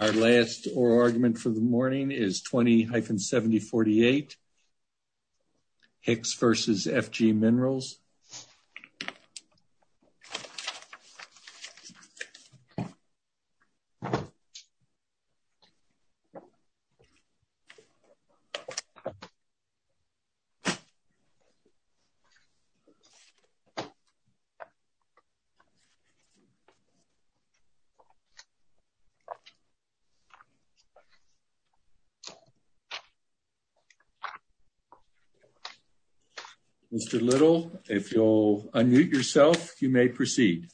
Our last argument for the morning is 20 hyphen 7048 Hicks v. FG Minerals Mr. Little, if you'll unmute yourself, you may proceed.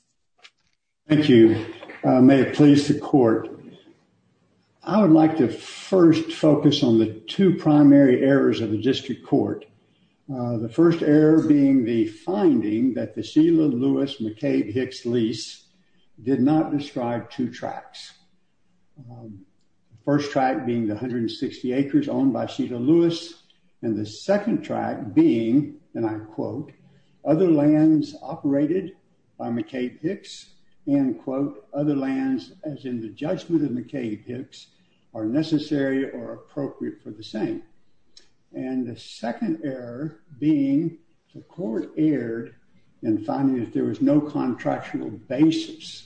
Thank you. May it please the court. I would like to first focus on the two primary errors of the district court. The first error being the finding that the Sheila Lewis McCabe Hicks lease did not describe two tracks. First track being 160 acres owned by Sheila Lewis. And the second track being, and I quote, other lands operated by McCabe Hicks and quote, other lands, as in the judgment of McCabe Hicks are necessary or appropriate for the same. And the second error being the court erred in finding that there was no contractual basis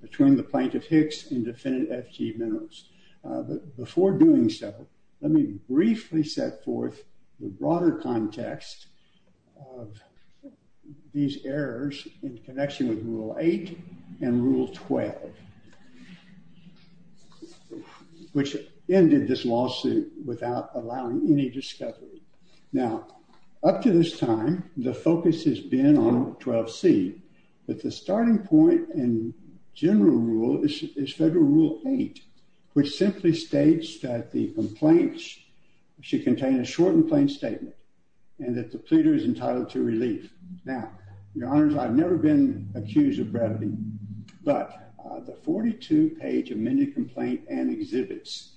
between the plaintiff Hicks and defendant FG Minerals. But before doing so, let me briefly set forth the broader context of these errors in connection with Rule 8 and Rule 12. Which ended this lawsuit without allowing any discovery. Now, up to this time, the focus has been on 12C. But the starting point and general rule is Federal Rule 8, which simply states that the complaints should contain a short and plain statement and that the pleader is entitled to relief. Now, your honors, I've never been accused of brevity. But the 42 page amended complaint and exhibits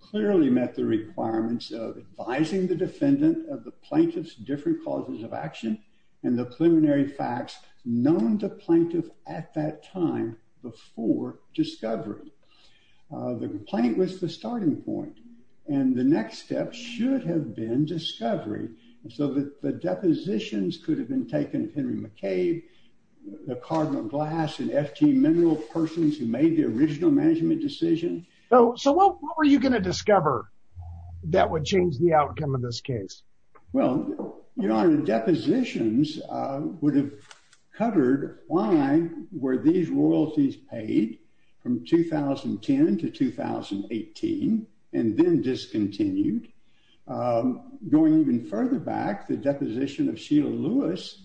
clearly met the requirements of advising the defendant of the plaintiff's different causes of action and the preliminary facts known to plaintiff at that time before discovery. The complaint was the starting point. And the next step should have been discovery. So that the depositions could have been taken Henry McCabe, the Cardinal Glass and FG Minerals persons who made the original management decision. So what were you going to discover that would change the outcome of this case? Well, your honor, depositions would have covered why were these royalties paid from 2010 to 2018 and then discontinued. Going even further back, the deposition of Sheila Lewis.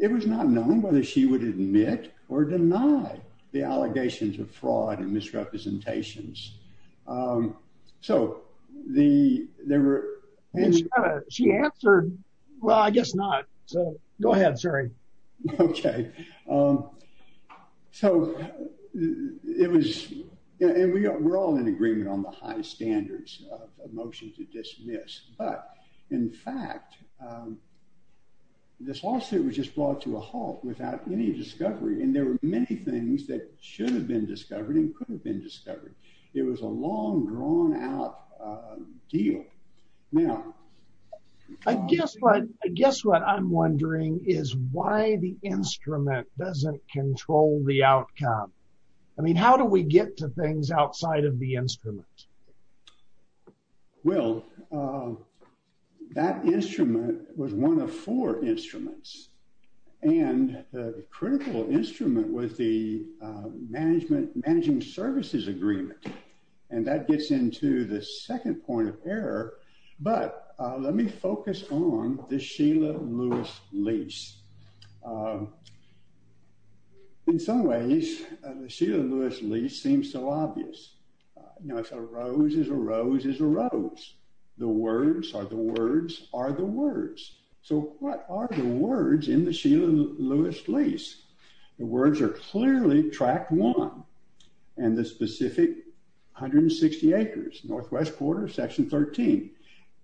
It was not known whether she would admit or deny the allegations of fraud and misrepresentations. So the there were. She answered. Well, I guess not. So go ahead. Sorry. Okay. So it was. And we were all in agreement on the high standards of motion to dismiss. In fact, this lawsuit was just brought to a halt without any discovery. And there were many things that should have been discovered and could have been discovered. It was a long drawn out deal. Now, I guess what I guess what I'm wondering is why the instrument doesn't control the outcome. I mean, how do we get to things outside of the instrument? Well, that instrument was one of four instruments and critical instrument with the management managing services agreement. And that gets into the second point of error. But let me focus on the Sheila Lewis lease. In some ways, the Sheila Lewis lease seems so obvious. Now, it's a rose is a rose is a rose. The words are the words are the words. So what are the words in the Sheila Lewis lease? The words are clearly track one and the specific hundred and sixty acres northwest quarter section 13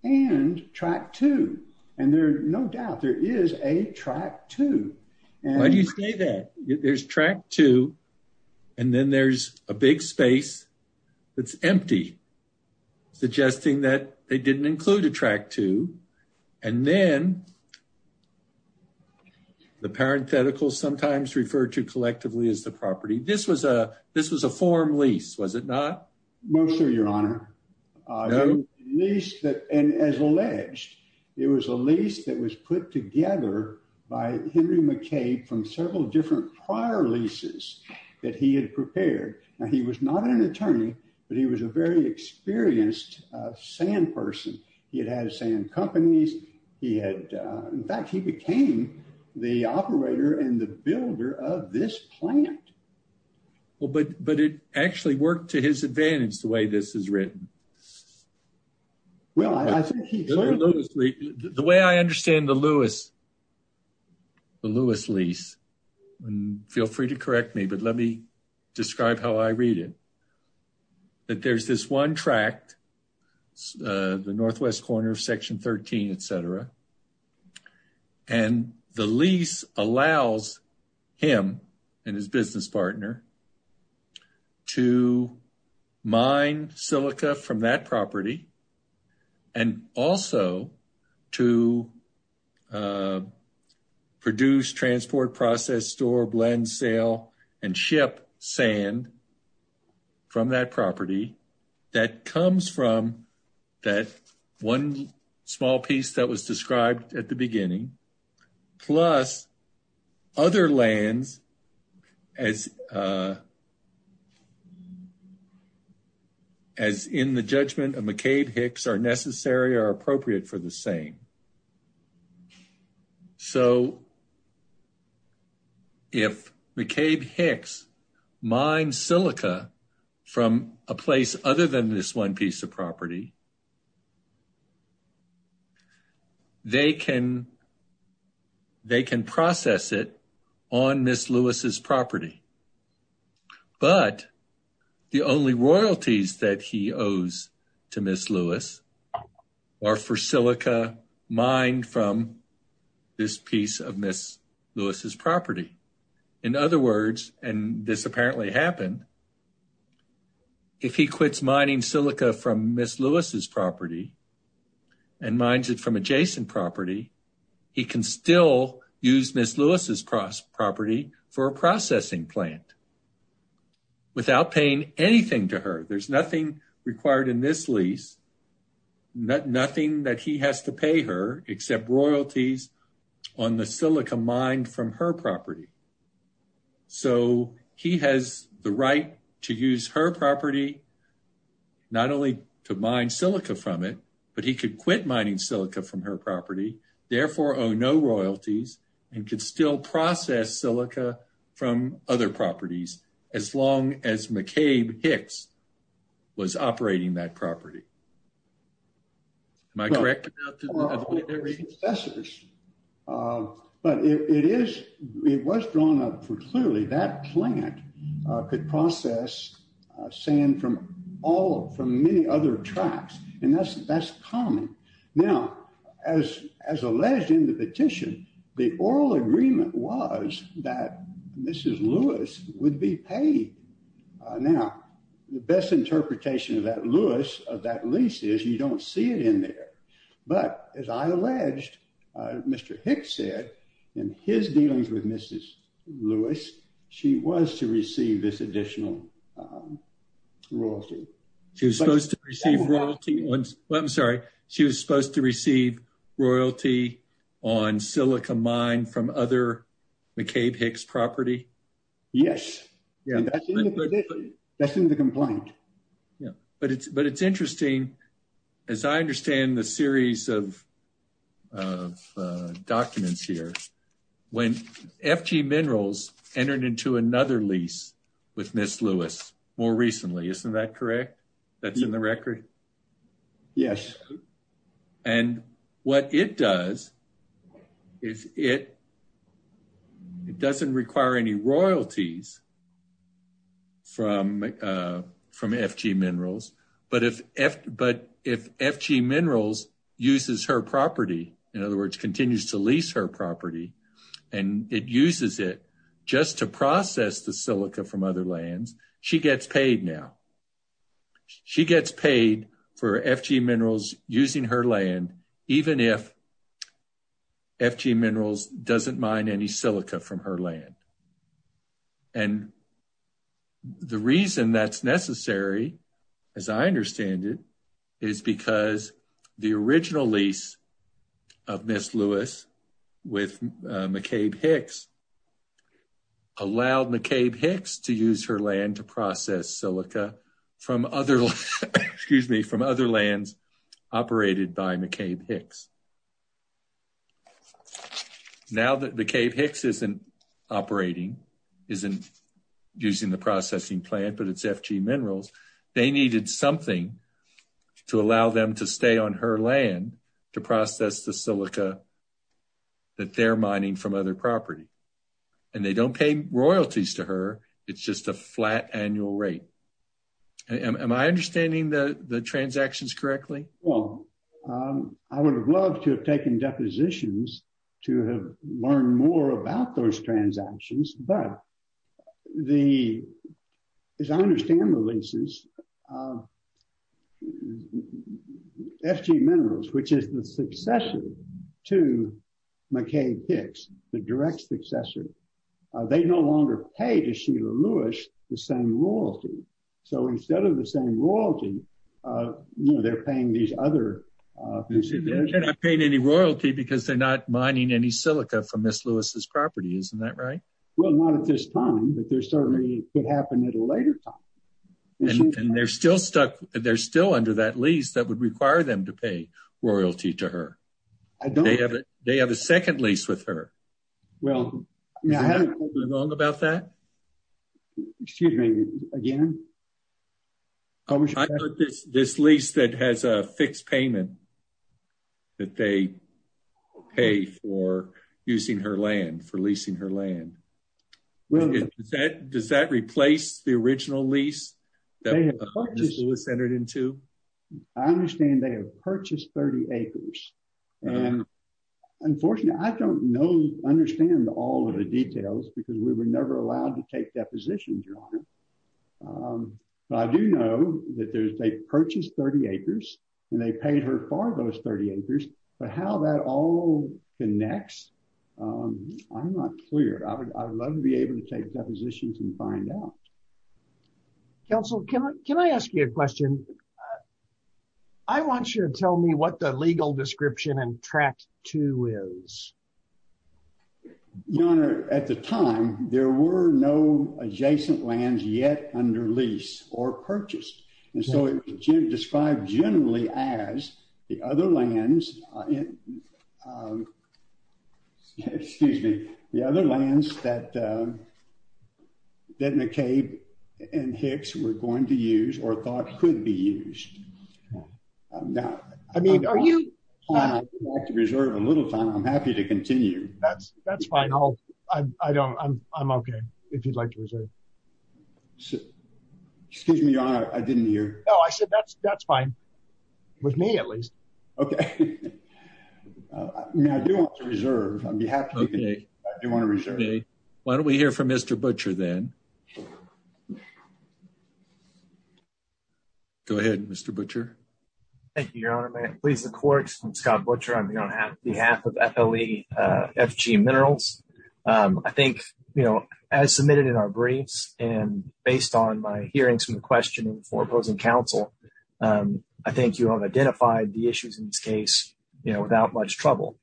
and track two. And there are no doubt there is a track two. Why do you say that? There's track two and then there's a big space that's empty, suggesting that they didn't include a track two. And then. The parenthetical sometimes referred to collectively as the property. This was a this was a form lease, was it not? Most of your honor, at least that. And as alleged, it was a lease that was put together by Henry McCabe from several different prior leases that he had prepared. Now, he was not an attorney, but he was a very experienced sand person. He had had sand companies. He had. In fact, he became the operator and the builder of this plant. Well, but but it actually worked to his advantage the way this is written. Well, I think the way I understand the Lewis. The Lewis lease and feel free to correct me, but let me describe how I read it. That there's this one tract, the northwest corner of section 13, et cetera. And the lease allows him and his business partner to mine silica from that property. And also to produce, transport, process, store, blend, sale and ship sand. From that property that comes from that one small piece that was described at the beginning. Plus other lands as. As in the judgment of McCabe Hicks are necessary or appropriate for the same. So. If McCabe Hicks mine silica from a place other than this one piece of property. They can. They can process it on Miss Lewis's property. But the only royalties that he owes to Miss Lewis are for silica mine from this piece of Miss Lewis's property. In other words, and this apparently happened. If he quits mining silica from Miss Lewis's property. And minds it from adjacent property. He can still use Miss Lewis's property for a processing plant. Without paying anything to her, there's nothing required in this lease. Nothing that he has to pay her except royalties on the silica mind from her property. So, he has the right to use her property. Not only to mine silica from it, but he could quit mining silica from her property. Therefore, no royalties and can still process silica from other properties. As long as McCabe Hicks was operating that property. Am I correct? But it is, it was drawn up for clearly that plant could process sand from all from many other tracks. And that's that's common. Now, as, as alleged in the petition, the oral agreement was that this is Lewis would be paid. Now, the best interpretation of that Lewis of that lease is you don't see it in there. But as I alleged, Mr. Hicks said in his dealings with Mrs. Lewis, she was to receive this additional royalty. She was supposed to receive royalty once. I'm sorry. She was supposed to receive royalty on silica mine from other McCabe Hicks property. Yes. That's in the complaint. But it's, but it's interesting. As I understand the series of documents here, when FG minerals entered into another lease with Miss Lewis more recently, isn't that correct? That's in the record. Yes. And what it does is it. It doesn't require any royalties. From from FG minerals. But if but if FG minerals uses her property, in other words, continues to lease her property, and it uses it just to process the silica from other lands. She gets paid now. She gets paid for FG minerals using her land, even if. FG minerals doesn't mind any silica from her land. And. The reason that's necessary, as I understand it, is because the original lease. Of Miss Lewis with McCabe Hicks. Allowed McCabe Hicks to use her land to process silica from other, excuse me, from other lands operated by McCabe Hicks. Now that McCabe Hicks isn't operating isn't using the processing plant, but it's FG minerals. They needed something to allow them to stay on her land to process the silica. That they're mining from other property and they don't pay royalties to her. It's just a flat annual rate. Am I understanding the transactions correctly? Well, I would have loved to have taken depositions to have learned more about those transactions, but the, as I understand the leases. FG minerals, which is the successor to McCabe Hicks, the direct successor. They no longer pay to Sheila Lewis, the same royalty. So instead of the same royalty, they're paying these other. They're not paying any royalty because they're not mining any silica from Miss Lewis's property. Isn't that right? Well, not at this time, but there certainly could happen at a later time. And they're still stuck. They're still under that lease that would require them to pay royalty to her. They have a second lease with her. Well. Is there anything wrong about that? Excuse me, again? I thought this lease that has a fixed payment that they pay for using her land, for leasing her land. Does that replace the original lease that Miss Lewis entered into? I understand they have purchased 30 acres. And unfortunately, I don't know, understand all of the details because we were never allowed to take depositions, Your Honor. But I do know that they purchased 30 acres and they paid her for those 30 acres. But how that all connects, I'm not clear. I would love to be able to take depositions and find out. Counsel, can I ask you a question? I want you to tell me what the legal description and track to is. Your Honor, at the time, there were no adjacent lands yet under lease or purchased. And so it was described generally as the other lands that McCabe and Hicks were going to use or thought could be used. I mean, if you'd like to reserve a little time, I'm happy to continue. That's fine. I'm okay if you'd like to reserve. Excuse me, Your Honor. I didn't hear. No, I said that's fine. With me, at least. Okay. I do want to reserve. Okay. Why don't we hear from Mr. Butcher then? Go ahead, Mr. Butcher. Thank you, Your Honor. May it please the court. I'm Scott Butcher. I'm here on behalf of FLE FG Minerals. I think, as submitted in our briefs and based on my hearings and questioning for opposing counsel, I think you have identified the issues in this case without much trouble.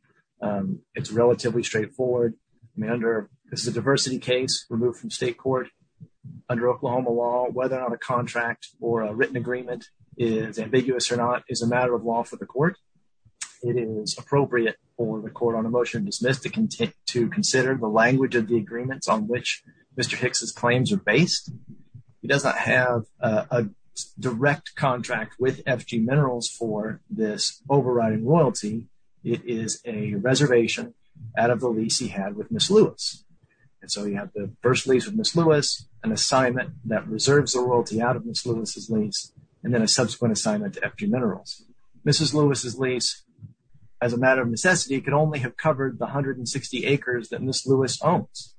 It's relatively straightforward. This is a diversity case removed from state court under Oklahoma law. Whether or not a contract or a written agreement is ambiguous or not is a matter of law for the court. It is appropriate for the court on a motion dismissed to consider the language of the agreements on which Mr. Hicks' claims are based. He does not have a direct contract with FG Minerals for this overriding royalty. It is a reservation out of the lease he had with Ms. Lewis. And so you have the first lease with Ms. Lewis, an assignment that reserves the royalty out of Ms. Lewis' lease, and then a subsequent assignment to FG Minerals. Ms. Lewis' lease, as a matter of necessity, could only have covered the 160 acres that Ms. Lewis owns.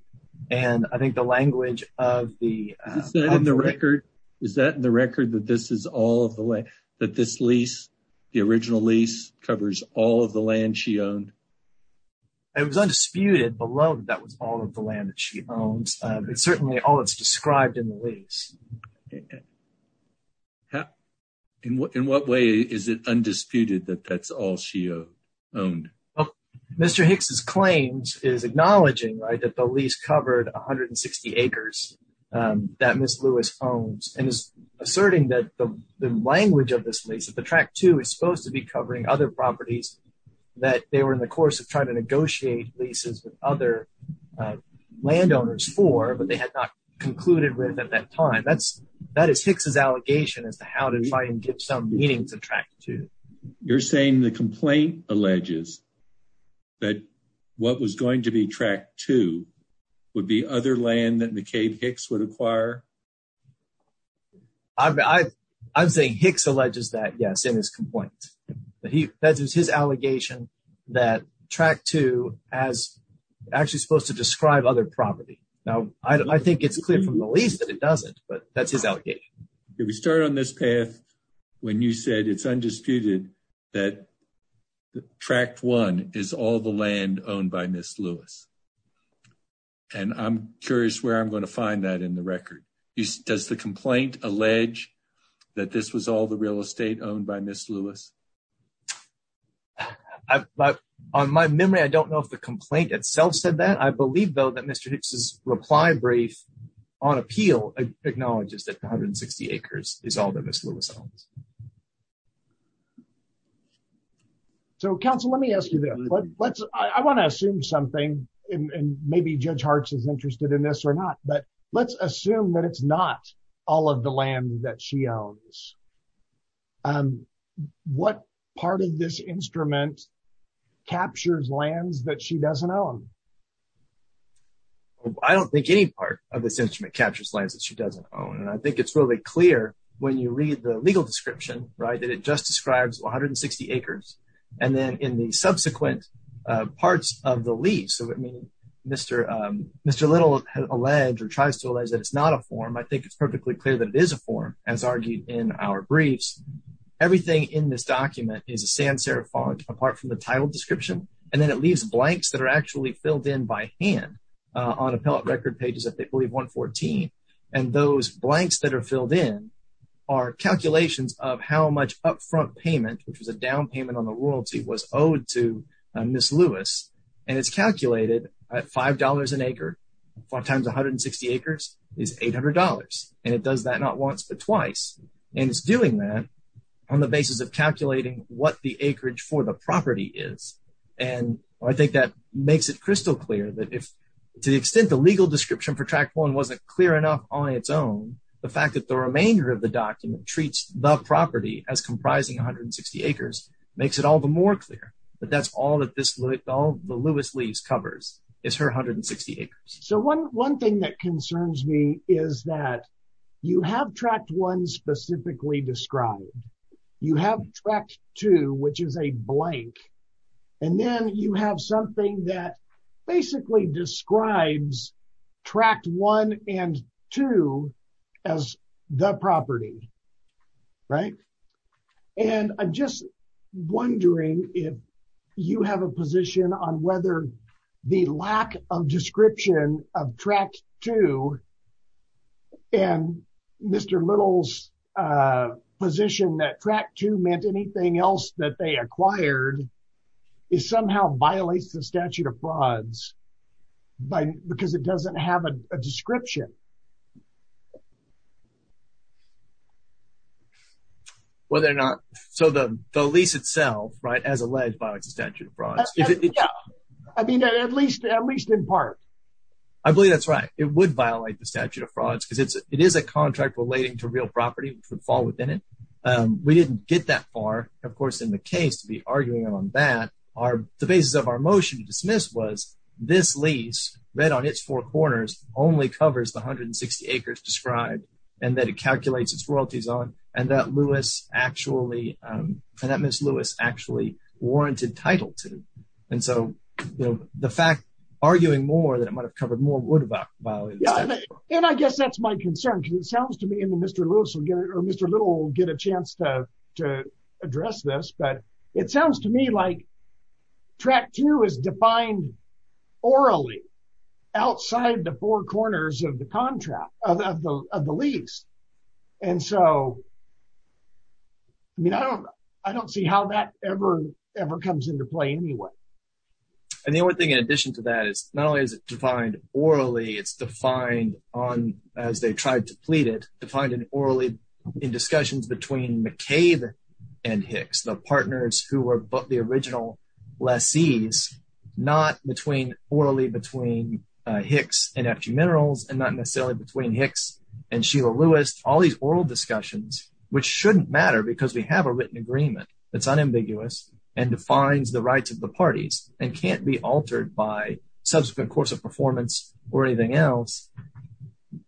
And I think the language of the… Is that in the record that this is all of the land, that this lease, the original lease, covers all of the land she owned? It was undisputed below that that was all of the land that she owned. It's certainly all that's described in the lease. In what way is it undisputed that that's all she owned? Mr. Hicks' claims is acknowledging that the lease covered 160 acres that Ms. Lewis owns, and is asserting that the language of this lease, that the Track 2, is supposed to be covering other properties that they were in the course of trying to negotiate leases with other landowners for, but they had not concluded with at that time. That is Hicks' allegation as to how to try and give some meaning to Track 2. You're saying the complaint alleges that what was going to be Track 2 would be other land that McCabe Hicks would acquire? I'm saying Hicks alleges that, yes, in his complaint. That is his allegation that Track 2 is actually supposed to describe other property. Now, I think it's clear from the lease that it doesn't, but that's his allegation. We started on this path when you said it's undisputed that Track 1 is all the land owned by Ms. Lewis. And I'm curious where I'm going to find that in the record. Does the complaint allege that this was all the real estate owned by Ms. Lewis? On my memory, I don't know if the complaint itself said that. I believe, though, that Mr. Hicks' reply brief on appeal acknowledges that 160 acres is all that Ms. Lewis owns. So, counsel, let me ask you this. I want to assume something, and maybe Judge Hartz is interested in this or not, but let's assume that it's not all of the land that she owns. What part of this instrument captures lands that she doesn't own? I don't think any part of this instrument captures lands that she doesn't own. And I think it's really clear when you read the legal description, right, that it just describes 160 acres. And then in the subsequent parts of the lease, Mr. Little tries to allege that it's not a form. I think it's perfectly clear that it is a form, as argued in our briefs. Everything in this document is a sans serif font, apart from the title description. And then it leaves blanks that are actually filled in by hand on appellate record pages that they believe 114. And those blanks that are filled in are calculations of how much upfront payment, which was a down payment on the royalty, was owed to Ms. Lewis. And it's calculated at $5 an acre times 160 acres is $800. And it does that not once but twice. And it's doing that on the basis of calculating what the acreage for the property is. And I think that makes it crystal clear that if, to the extent the legal description for tract one wasn't clear enough on its own, the fact that the remainder of the document treats the property as comprising 160 acres makes it all the more clear. But that's all that this, all the Lewis lease covers is her 160 acres. So one thing that concerns me is that you have tract one specifically described. You have tract two, which is a blank. And then you have something that basically describes tract one and two as the property. Right. And I'm just wondering if you have a position on whether the lack of description of tract two and Mr. Little's position that tract two meant anything else that they acquired is somehow violates the statute of frauds by because it doesn't have a description. Whether or not. So the lease itself, right, as alleged by extension frauds. I mean, at least at least in part. I believe that's right. It would violate the statute of frauds because it's it is a contract relating to real property would fall within it. We didn't get that far. And so, of course, in the case to be arguing on that are the basis of our motion to dismiss was this lease read on its four corners only covers the 160 acres described and that it calculates its royalties on and that Lewis actually that Miss Lewis actually warranted title to. And so the fact arguing more than it might have covered more about. And I guess that's my concern because it sounds to me in the Mr. Lewis will get it or Mr. Little get a chance to to address this but it sounds to me like track two is defined orally outside the four corners of the contract of the lease. And so, I mean, I don't, I don't see how that ever, ever comes into play anyway. And the only thing in addition to that is not only is it defined orally it's defined on as they tried to plead it to find an orally in discussions between McCabe and Hicks the partners who were both the original lessees, not between orally between Hicks and actually minerals and not necessarily between Hicks and Sheila Lewis, all these oral discussions, which shouldn't matter because we have a written agreement. It's unambiguous and defines the rights of the parties and can't be altered by subsequent course of performance or anything else.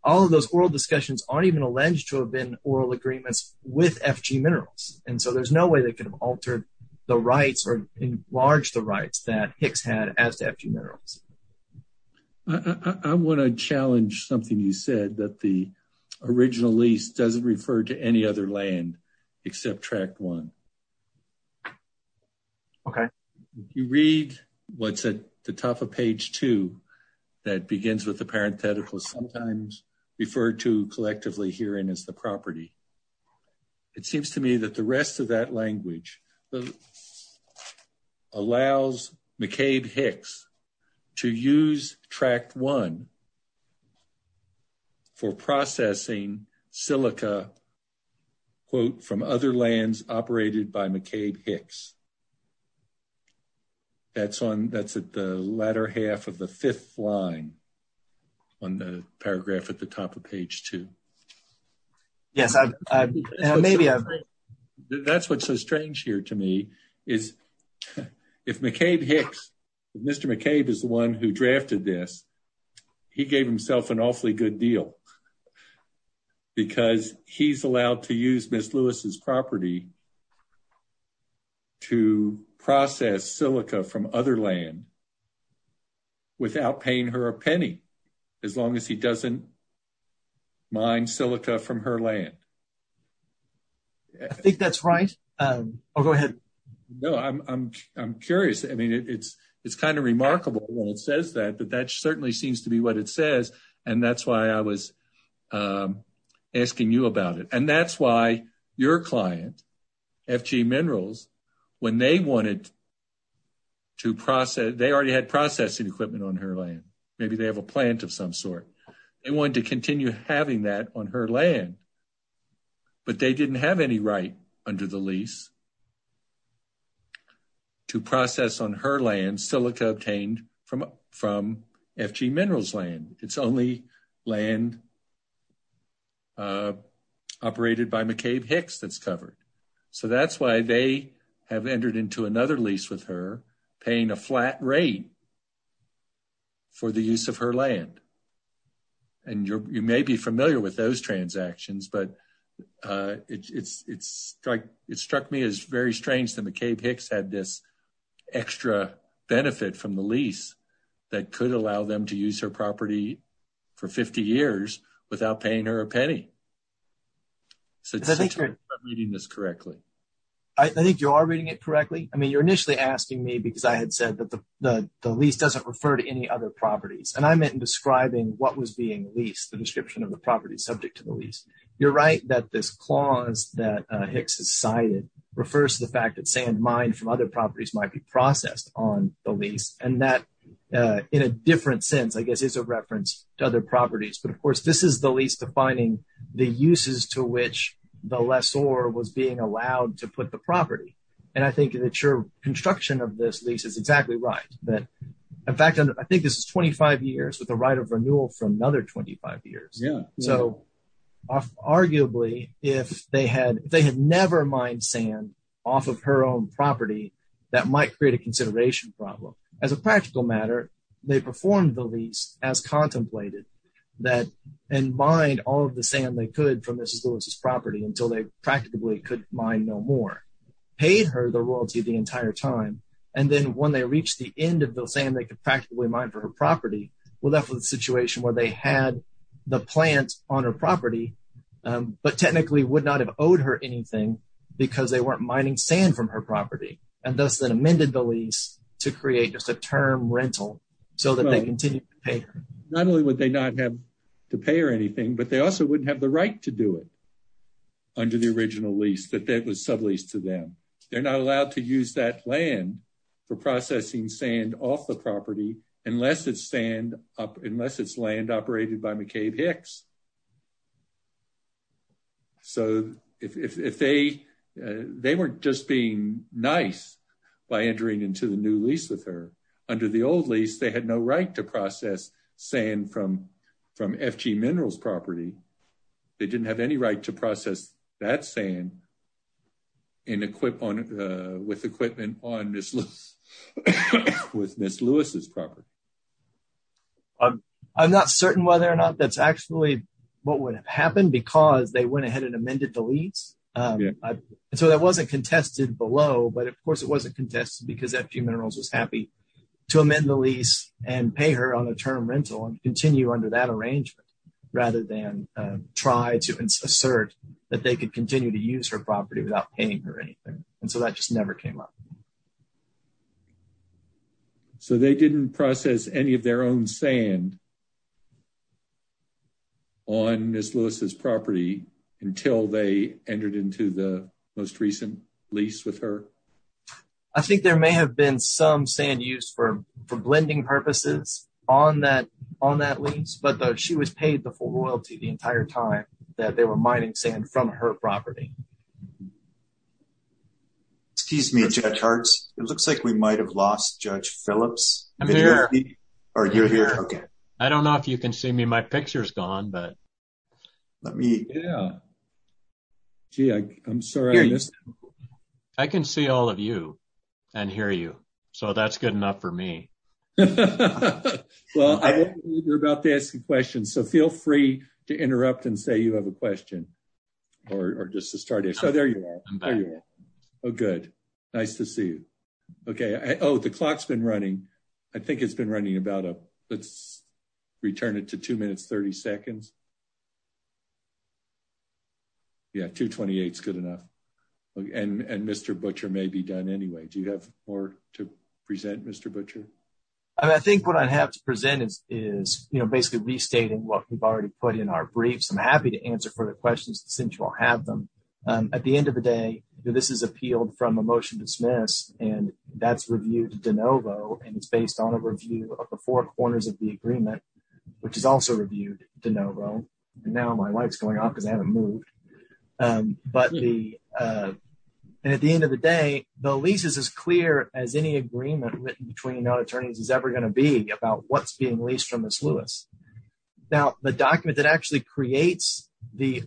All of those oral discussions aren't even alleged to have been oral agreements with FG minerals, and so there's no way they could have altered the rights or enlarge the rights that Hicks had as to FG minerals. I want to challenge something you said that the original lease doesn't refer to any other land, except track one. Okay, you read what's at the top of page two. That begins with the parenthetical sometimes referred to collectively here in as the property. It seems to me that the rest of that language allows McCabe Hicks to use track one for processing silica quote from other lands operated by McCabe Hicks. That's on that's at the latter half of the fifth line on the paragraph at the top of page two. Yes, I maybe I. That's what's so strange here to me is if McCabe Hicks, Mr. McCabe is the one who drafted this, he gave himself an awfully good deal. Because he's allowed to use Miss Lewis's property to process silica from other land without paying her a penny as long as he doesn't mine silica from her land. I think that's right. I'll go ahead. No, I'm curious. I mean, it's, it's kind of remarkable when it says that but that certainly seems to be what it says. And that's why I was asking you about it and that's why your client FG minerals, when they wanted to process they already had processing equipment on her land, maybe they have a plant of some sort. They wanted to continue having that on her land, but they didn't have any right under the lease to process on her land silica obtained from from FG minerals land. It's only land operated by McCabe Hicks that's covered. So that's why they have entered into another lease with her paying a flat rate for the use of her land. And you're, you may be familiar with those transactions but it's like it struck me as very strange to McCabe Hicks had this extra benefit from the lease that could allow them to use her property for 50 years without paying her a penny. So I think you're reading this correctly. I think you are reading it correctly. I mean you're initially asking me because I had said that the, the least doesn't refer to any other properties and I'm in describing what was being leased the description of the property subject to the lease. You're right that this clause that Hicks has cited refers to the fact that sand mine from other properties might be processed on the lease, and that, in a different sense I guess is a reference to other properties but of course this is the least defining the uses to which the lessor was being allowed to put the property. And I think that your construction of this lease is exactly right, that, in fact, I think this is 25 years with the right of renewal from another 25 years. So, arguably, if they had, they had never mined sand off of her own property, that might create a consideration problem as a practical matter, they performed the lease as contemplated that in mind all of the sand they could from this property until they practically could mine no more paid her the royalty the entire time. And then when they reached the end of the same they could practically mine for her property will that was a situation where they had the plants on her property, but technically would not have owed her anything because they weren't mining sand from her property, and thus that amended the lease to create just a term rental, so that they continue to pay. Not only would they not have to pay or anything but they also wouldn't have the right to do it under the original lease that that was subleased to them. They're not allowed to use that land for processing sand off the property, unless it's land operated by McCabe Hicks. So, if they, they weren't just being nice by entering into the new lease with her under the old lease they had no right to process saying from from FG minerals property. They didn't have any right to process that sand and equip on with equipment on this list with Miss Lewis's property. I'm not certain whether or not that's actually what would have happened because they went ahead and amended the leads. So that wasn't contested below but of course it wasn't contested because FG minerals was happy to amend the lease and pay her on a term rental and continue under that arrangement, rather than try to assert that they could continue to use her property without paying her anything. And so that just never came up. So they didn't process any of their own sand on Miss Lewis's property, until they entered into the most recent lease with her. I think there may have been some sand use for for blending purposes on that on that lease but though she was paid the full royalty the entire time that they were mining sand from her property. Excuse me, it looks like we might have lost judge Phillips, or you're here. Okay. I don't know if you can see me my pictures gone but let me. Yeah. Gee, I'm sorry. I can see all of you and hear you. So that's good enough for me. Well, you're about to ask a question so feel free to interrupt and say you have a question, or just to start it so there you go. Oh good. Nice to see you. Okay. Oh, the clock's been running. I think it's been running about a, let's return it to two minutes 30 seconds. Yeah 228 is good enough. And Mr butcher may be done anyway. Do you have more to present Mr butcher. I think what I have to present is, is, you know, basically restating what we've already put in our briefs I'm happy to answer further questions central have them. At the end of the day, this is appealed from emotion dismiss, and that's reviewed de novo, and it's based on a review of the four corners of the agreement, which is also reviewed de novo. Now my wife's going off because I haven't moved. But at the end of the day, the leases as clear as any agreement written between attorneys is ever going to be about what's being leased from this Lewis. Now, the document that actually creates the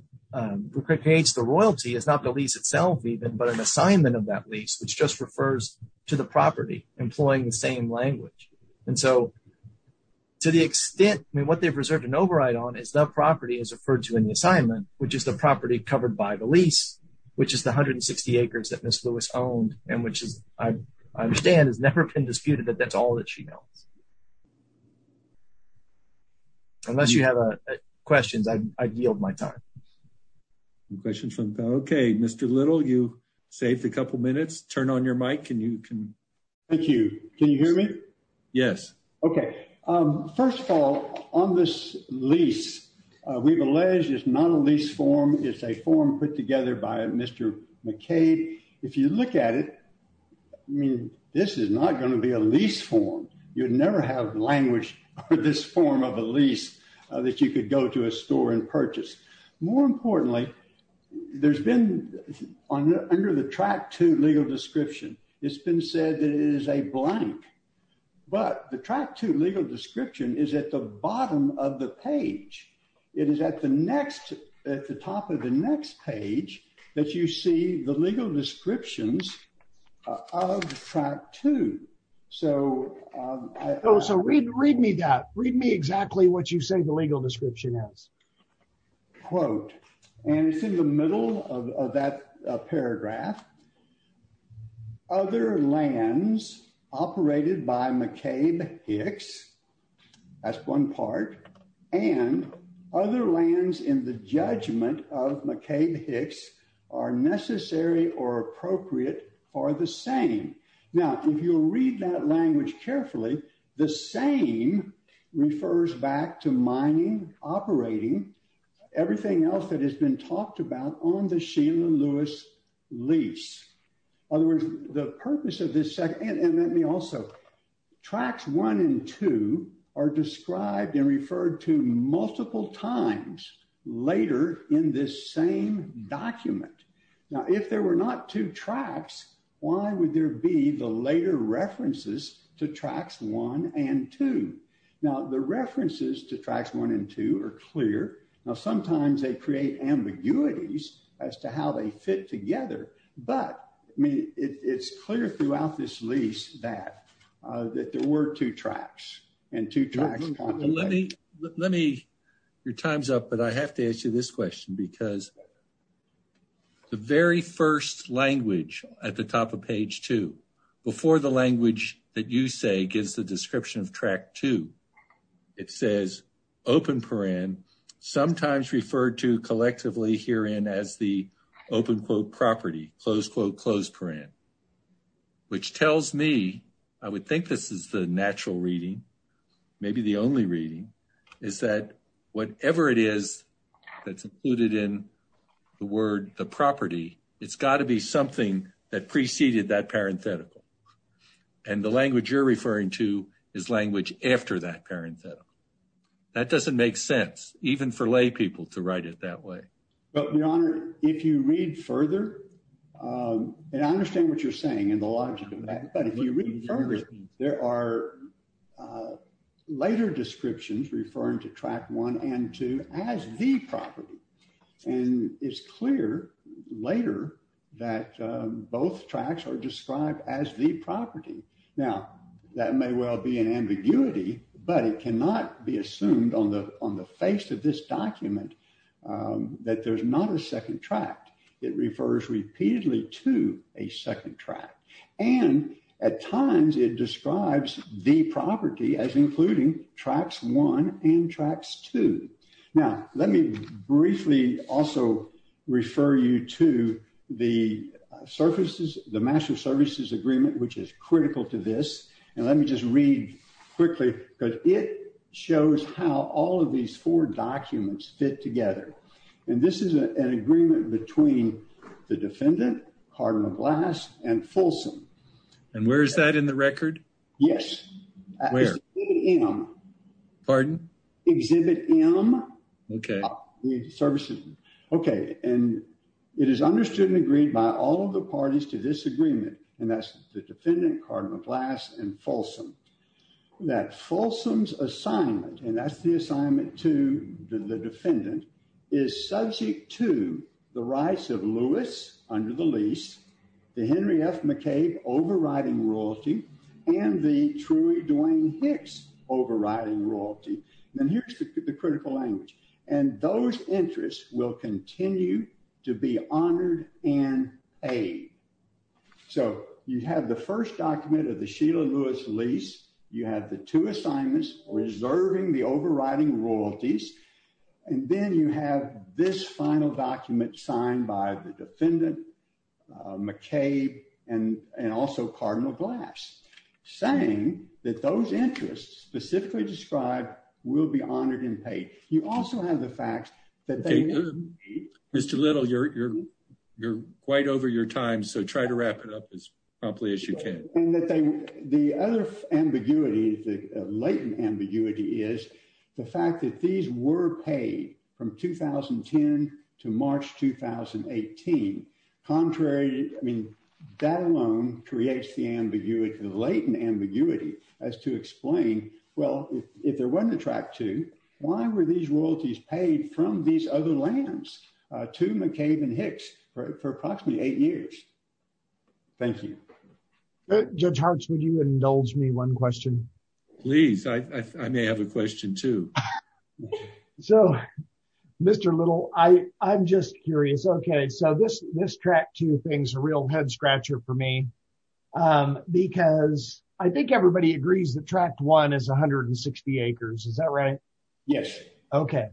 creates the royalty is not the lease itself even but an assignment of that lease which just refers to the property, employing the same language. And so, to the extent, I mean what they've reserved an override on is the property is referred to in the assignment, which is the property covered by the lease, which is 160 acres that Miss Lewis owned, and which is, I understand has never been disputed that that's all that she knows. Unless you have questions I yield my time. Questions from okay Mr little you saved a couple minutes, turn on your mic and you can. Thank you. Can you hear me. Yes. Okay. First of all, on this lease. We've alleged is not a lease form is a form put together by Mr. McKay, if you look at it. I mean, this is not going to be a lease form, you'd never have language for this form of a lease that you could go to a store and purchase. More importantly, there's been on under the track to legal description, it's been said that it is a blank. But the track to legal description is at the bottom of the page. It is at the next at the top of the next page that you see the legal descriptions of track to. So, so read, read me that read me exactly what you say the legal description is quote, and it's in the middle of that paragraph. Other lands operated by McCabe Hicks. That's one part, and other lands in the judgment of McCabe Hicks are necessary or appropriate for the same. Now, if you read that language carefully. The same refers back to mining operating everything else that has been talked about on the Sheila Lewis lease. Other words, the purpose of this second and let me also tracks one and two are described and referred to multiple times later in this same document. Now, if there were not two tracks. Why would there be the later references to tracks one and two. Now the references to tracks one and two are clear. Now, sometimes they create ambiguities as to how they fit together. But, I mean, it's clear throughout this lease that that there were two tracks and two tracks. Let me, let me, your time's up, but I have to answer this question because the very 1st language at the top of page 2 before the language that you say gives the description of track to. It says open sometimes referred to collectively here in as the open quote property close quote, close print. Which tells me, I would think this is the natural reading. Maybe the only reading is that whatever it is that's included in the word, the property. It's got to be something that preceded that parenthetical. And the language you're referring to is language after that parenthetical. That doesn't make sense. Even for lay people to write it that way. But your honor, if you read further, and I understand what you're saying, and the logic of that, but if you read further, there are later descriptions referring to track one and two as the property. And it's clear later that both tracks are described as the property. Now, that may well be an ambiguity, but it cannot be assumed on the, on the face of this document. That there's not a 2nd track. It refers repeatedly to a 2nd track and at times it describes the property as including tracks 1 and tracks 2. Now, let me briefly also refer you to the surfaces, the master services agreement, which is critical to this. And let me just read quickly because it shows how all of these 4 documents fit together. And this is an agreement between the defendant, Cardinal Glass, and Folsom. And where is that in the record? Yes. Where? Exhibit M. Pardon? Exhibit M. Okay. Okay. And it is understood and agreed by all of the parties to this agreement. And that's the defendant, Cardinal Glass, and Folsom. That Folsom's assignment, and that's the assignment to the defendant, is subject to the rights of Lewis under the lease, the Henry F. McCabe overriding royalty, and the Troy Dwayne Hicks overriding royalty. And here's the critical language. And those interests will continue to be honored and aided. So, you have the first document of the Sheila Lewis lease. You have the 2 assignments reserving the overriding royalties. And then you have this final document signed by the defendant, McCabe, and also Cardinal Glass, saying that those interests specifically described will be honored and paid. You also have the facts that they will be paid. Mr. Little, you're quite over your time, so try to wrap it up as promptly as you can. The other ambiguity, the latent ambiguity, is the fact that these were paid from 2010 to March 2018. Contrary, I mean, that alone creates the latent ambiguity as to explain, well, if there wasn't a Track II, why were these royalties paid from these other lands to McCabe and Hicks for approximately eight years? Thank you. Judge Hartz, would you indulge me one question? Please, I may have a question, too. So, Mr. Little, I'm just curious. Okay, so this Track II thing's a real head-scratcher for me, because I think everybody agrees that Track I is 160 acres, is that right? Yes. Okay,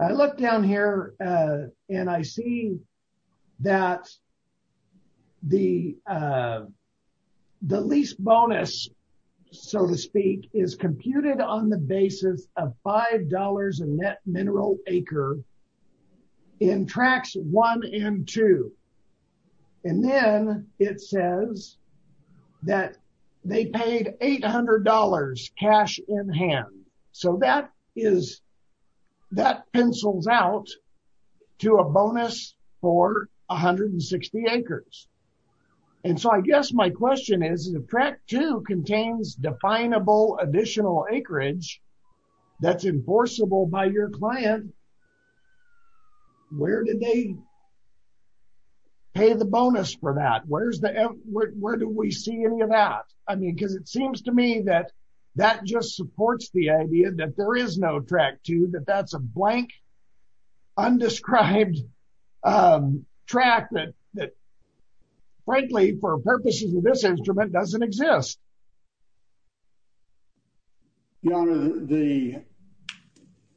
I look down here and I see that the lease bonus, so to speak, is computed on the basis of $5 a net mineral acre in Tracks I and II. And then it says that they paid $800 cash in hand. So that pencils out to a bonus for 160 acres. And so I guess my question is, if Track II contains definable additional acreage that's enforceable by your client, where did they pay the bonus for that? Where do we see any of that? I mean, because it seems to me that that just supports the idea that there is no Track II, that that's a blank, undescribed track that, frankly, for purposes of this instrument, doesn't exist. Your Honor, the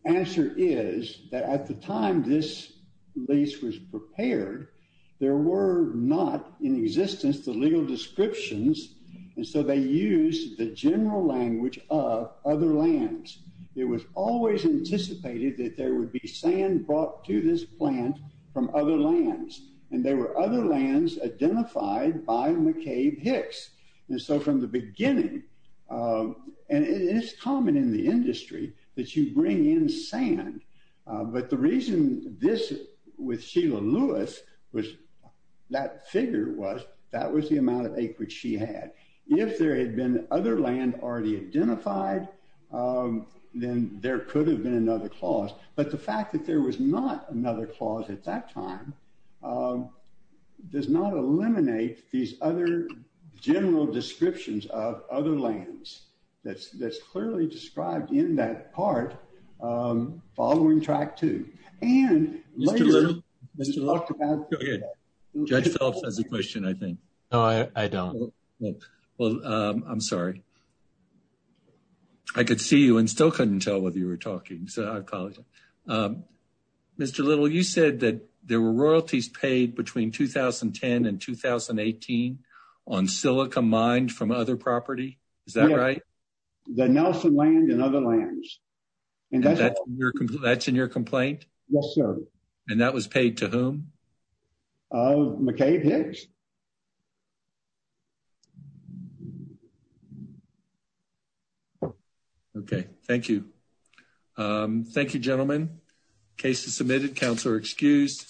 answer is that at the time this lease was prepared, there were not in existence the legal descriptions, and so they used the general language of other lands. It was always anticipated that there would be sand brought to this plant from other lands, and there were other lands identified by McCabe Hicks. And so from the beginning, and it is common in the industry that you bring in sand, but the reason this, with Sheila Lewis, that figure was, that was the amount of acreage she had. If there had been other land already identified, then there could have been another clause. But the fact that there was not another clause at that time does not eliminate these other general descriptions of other lands that's clearly described in that part following Track II. Mr. Little, Judge Phillips has a question, I think. No, I don't. Well, I'm sorry. I could see you and still couldn't tell whether you were talking, so I apologize. Mr. Little, you said that there were royalties paid between 2010 and 2018 on silica mined from other property. Is that right? The Nelson land and other lands. That's in your complaint? Yes, sir. And that was paid to whom? McCabe Hicks. Okay, thank you. Thank you, gentlemen. Case is submitted. Counselor excused.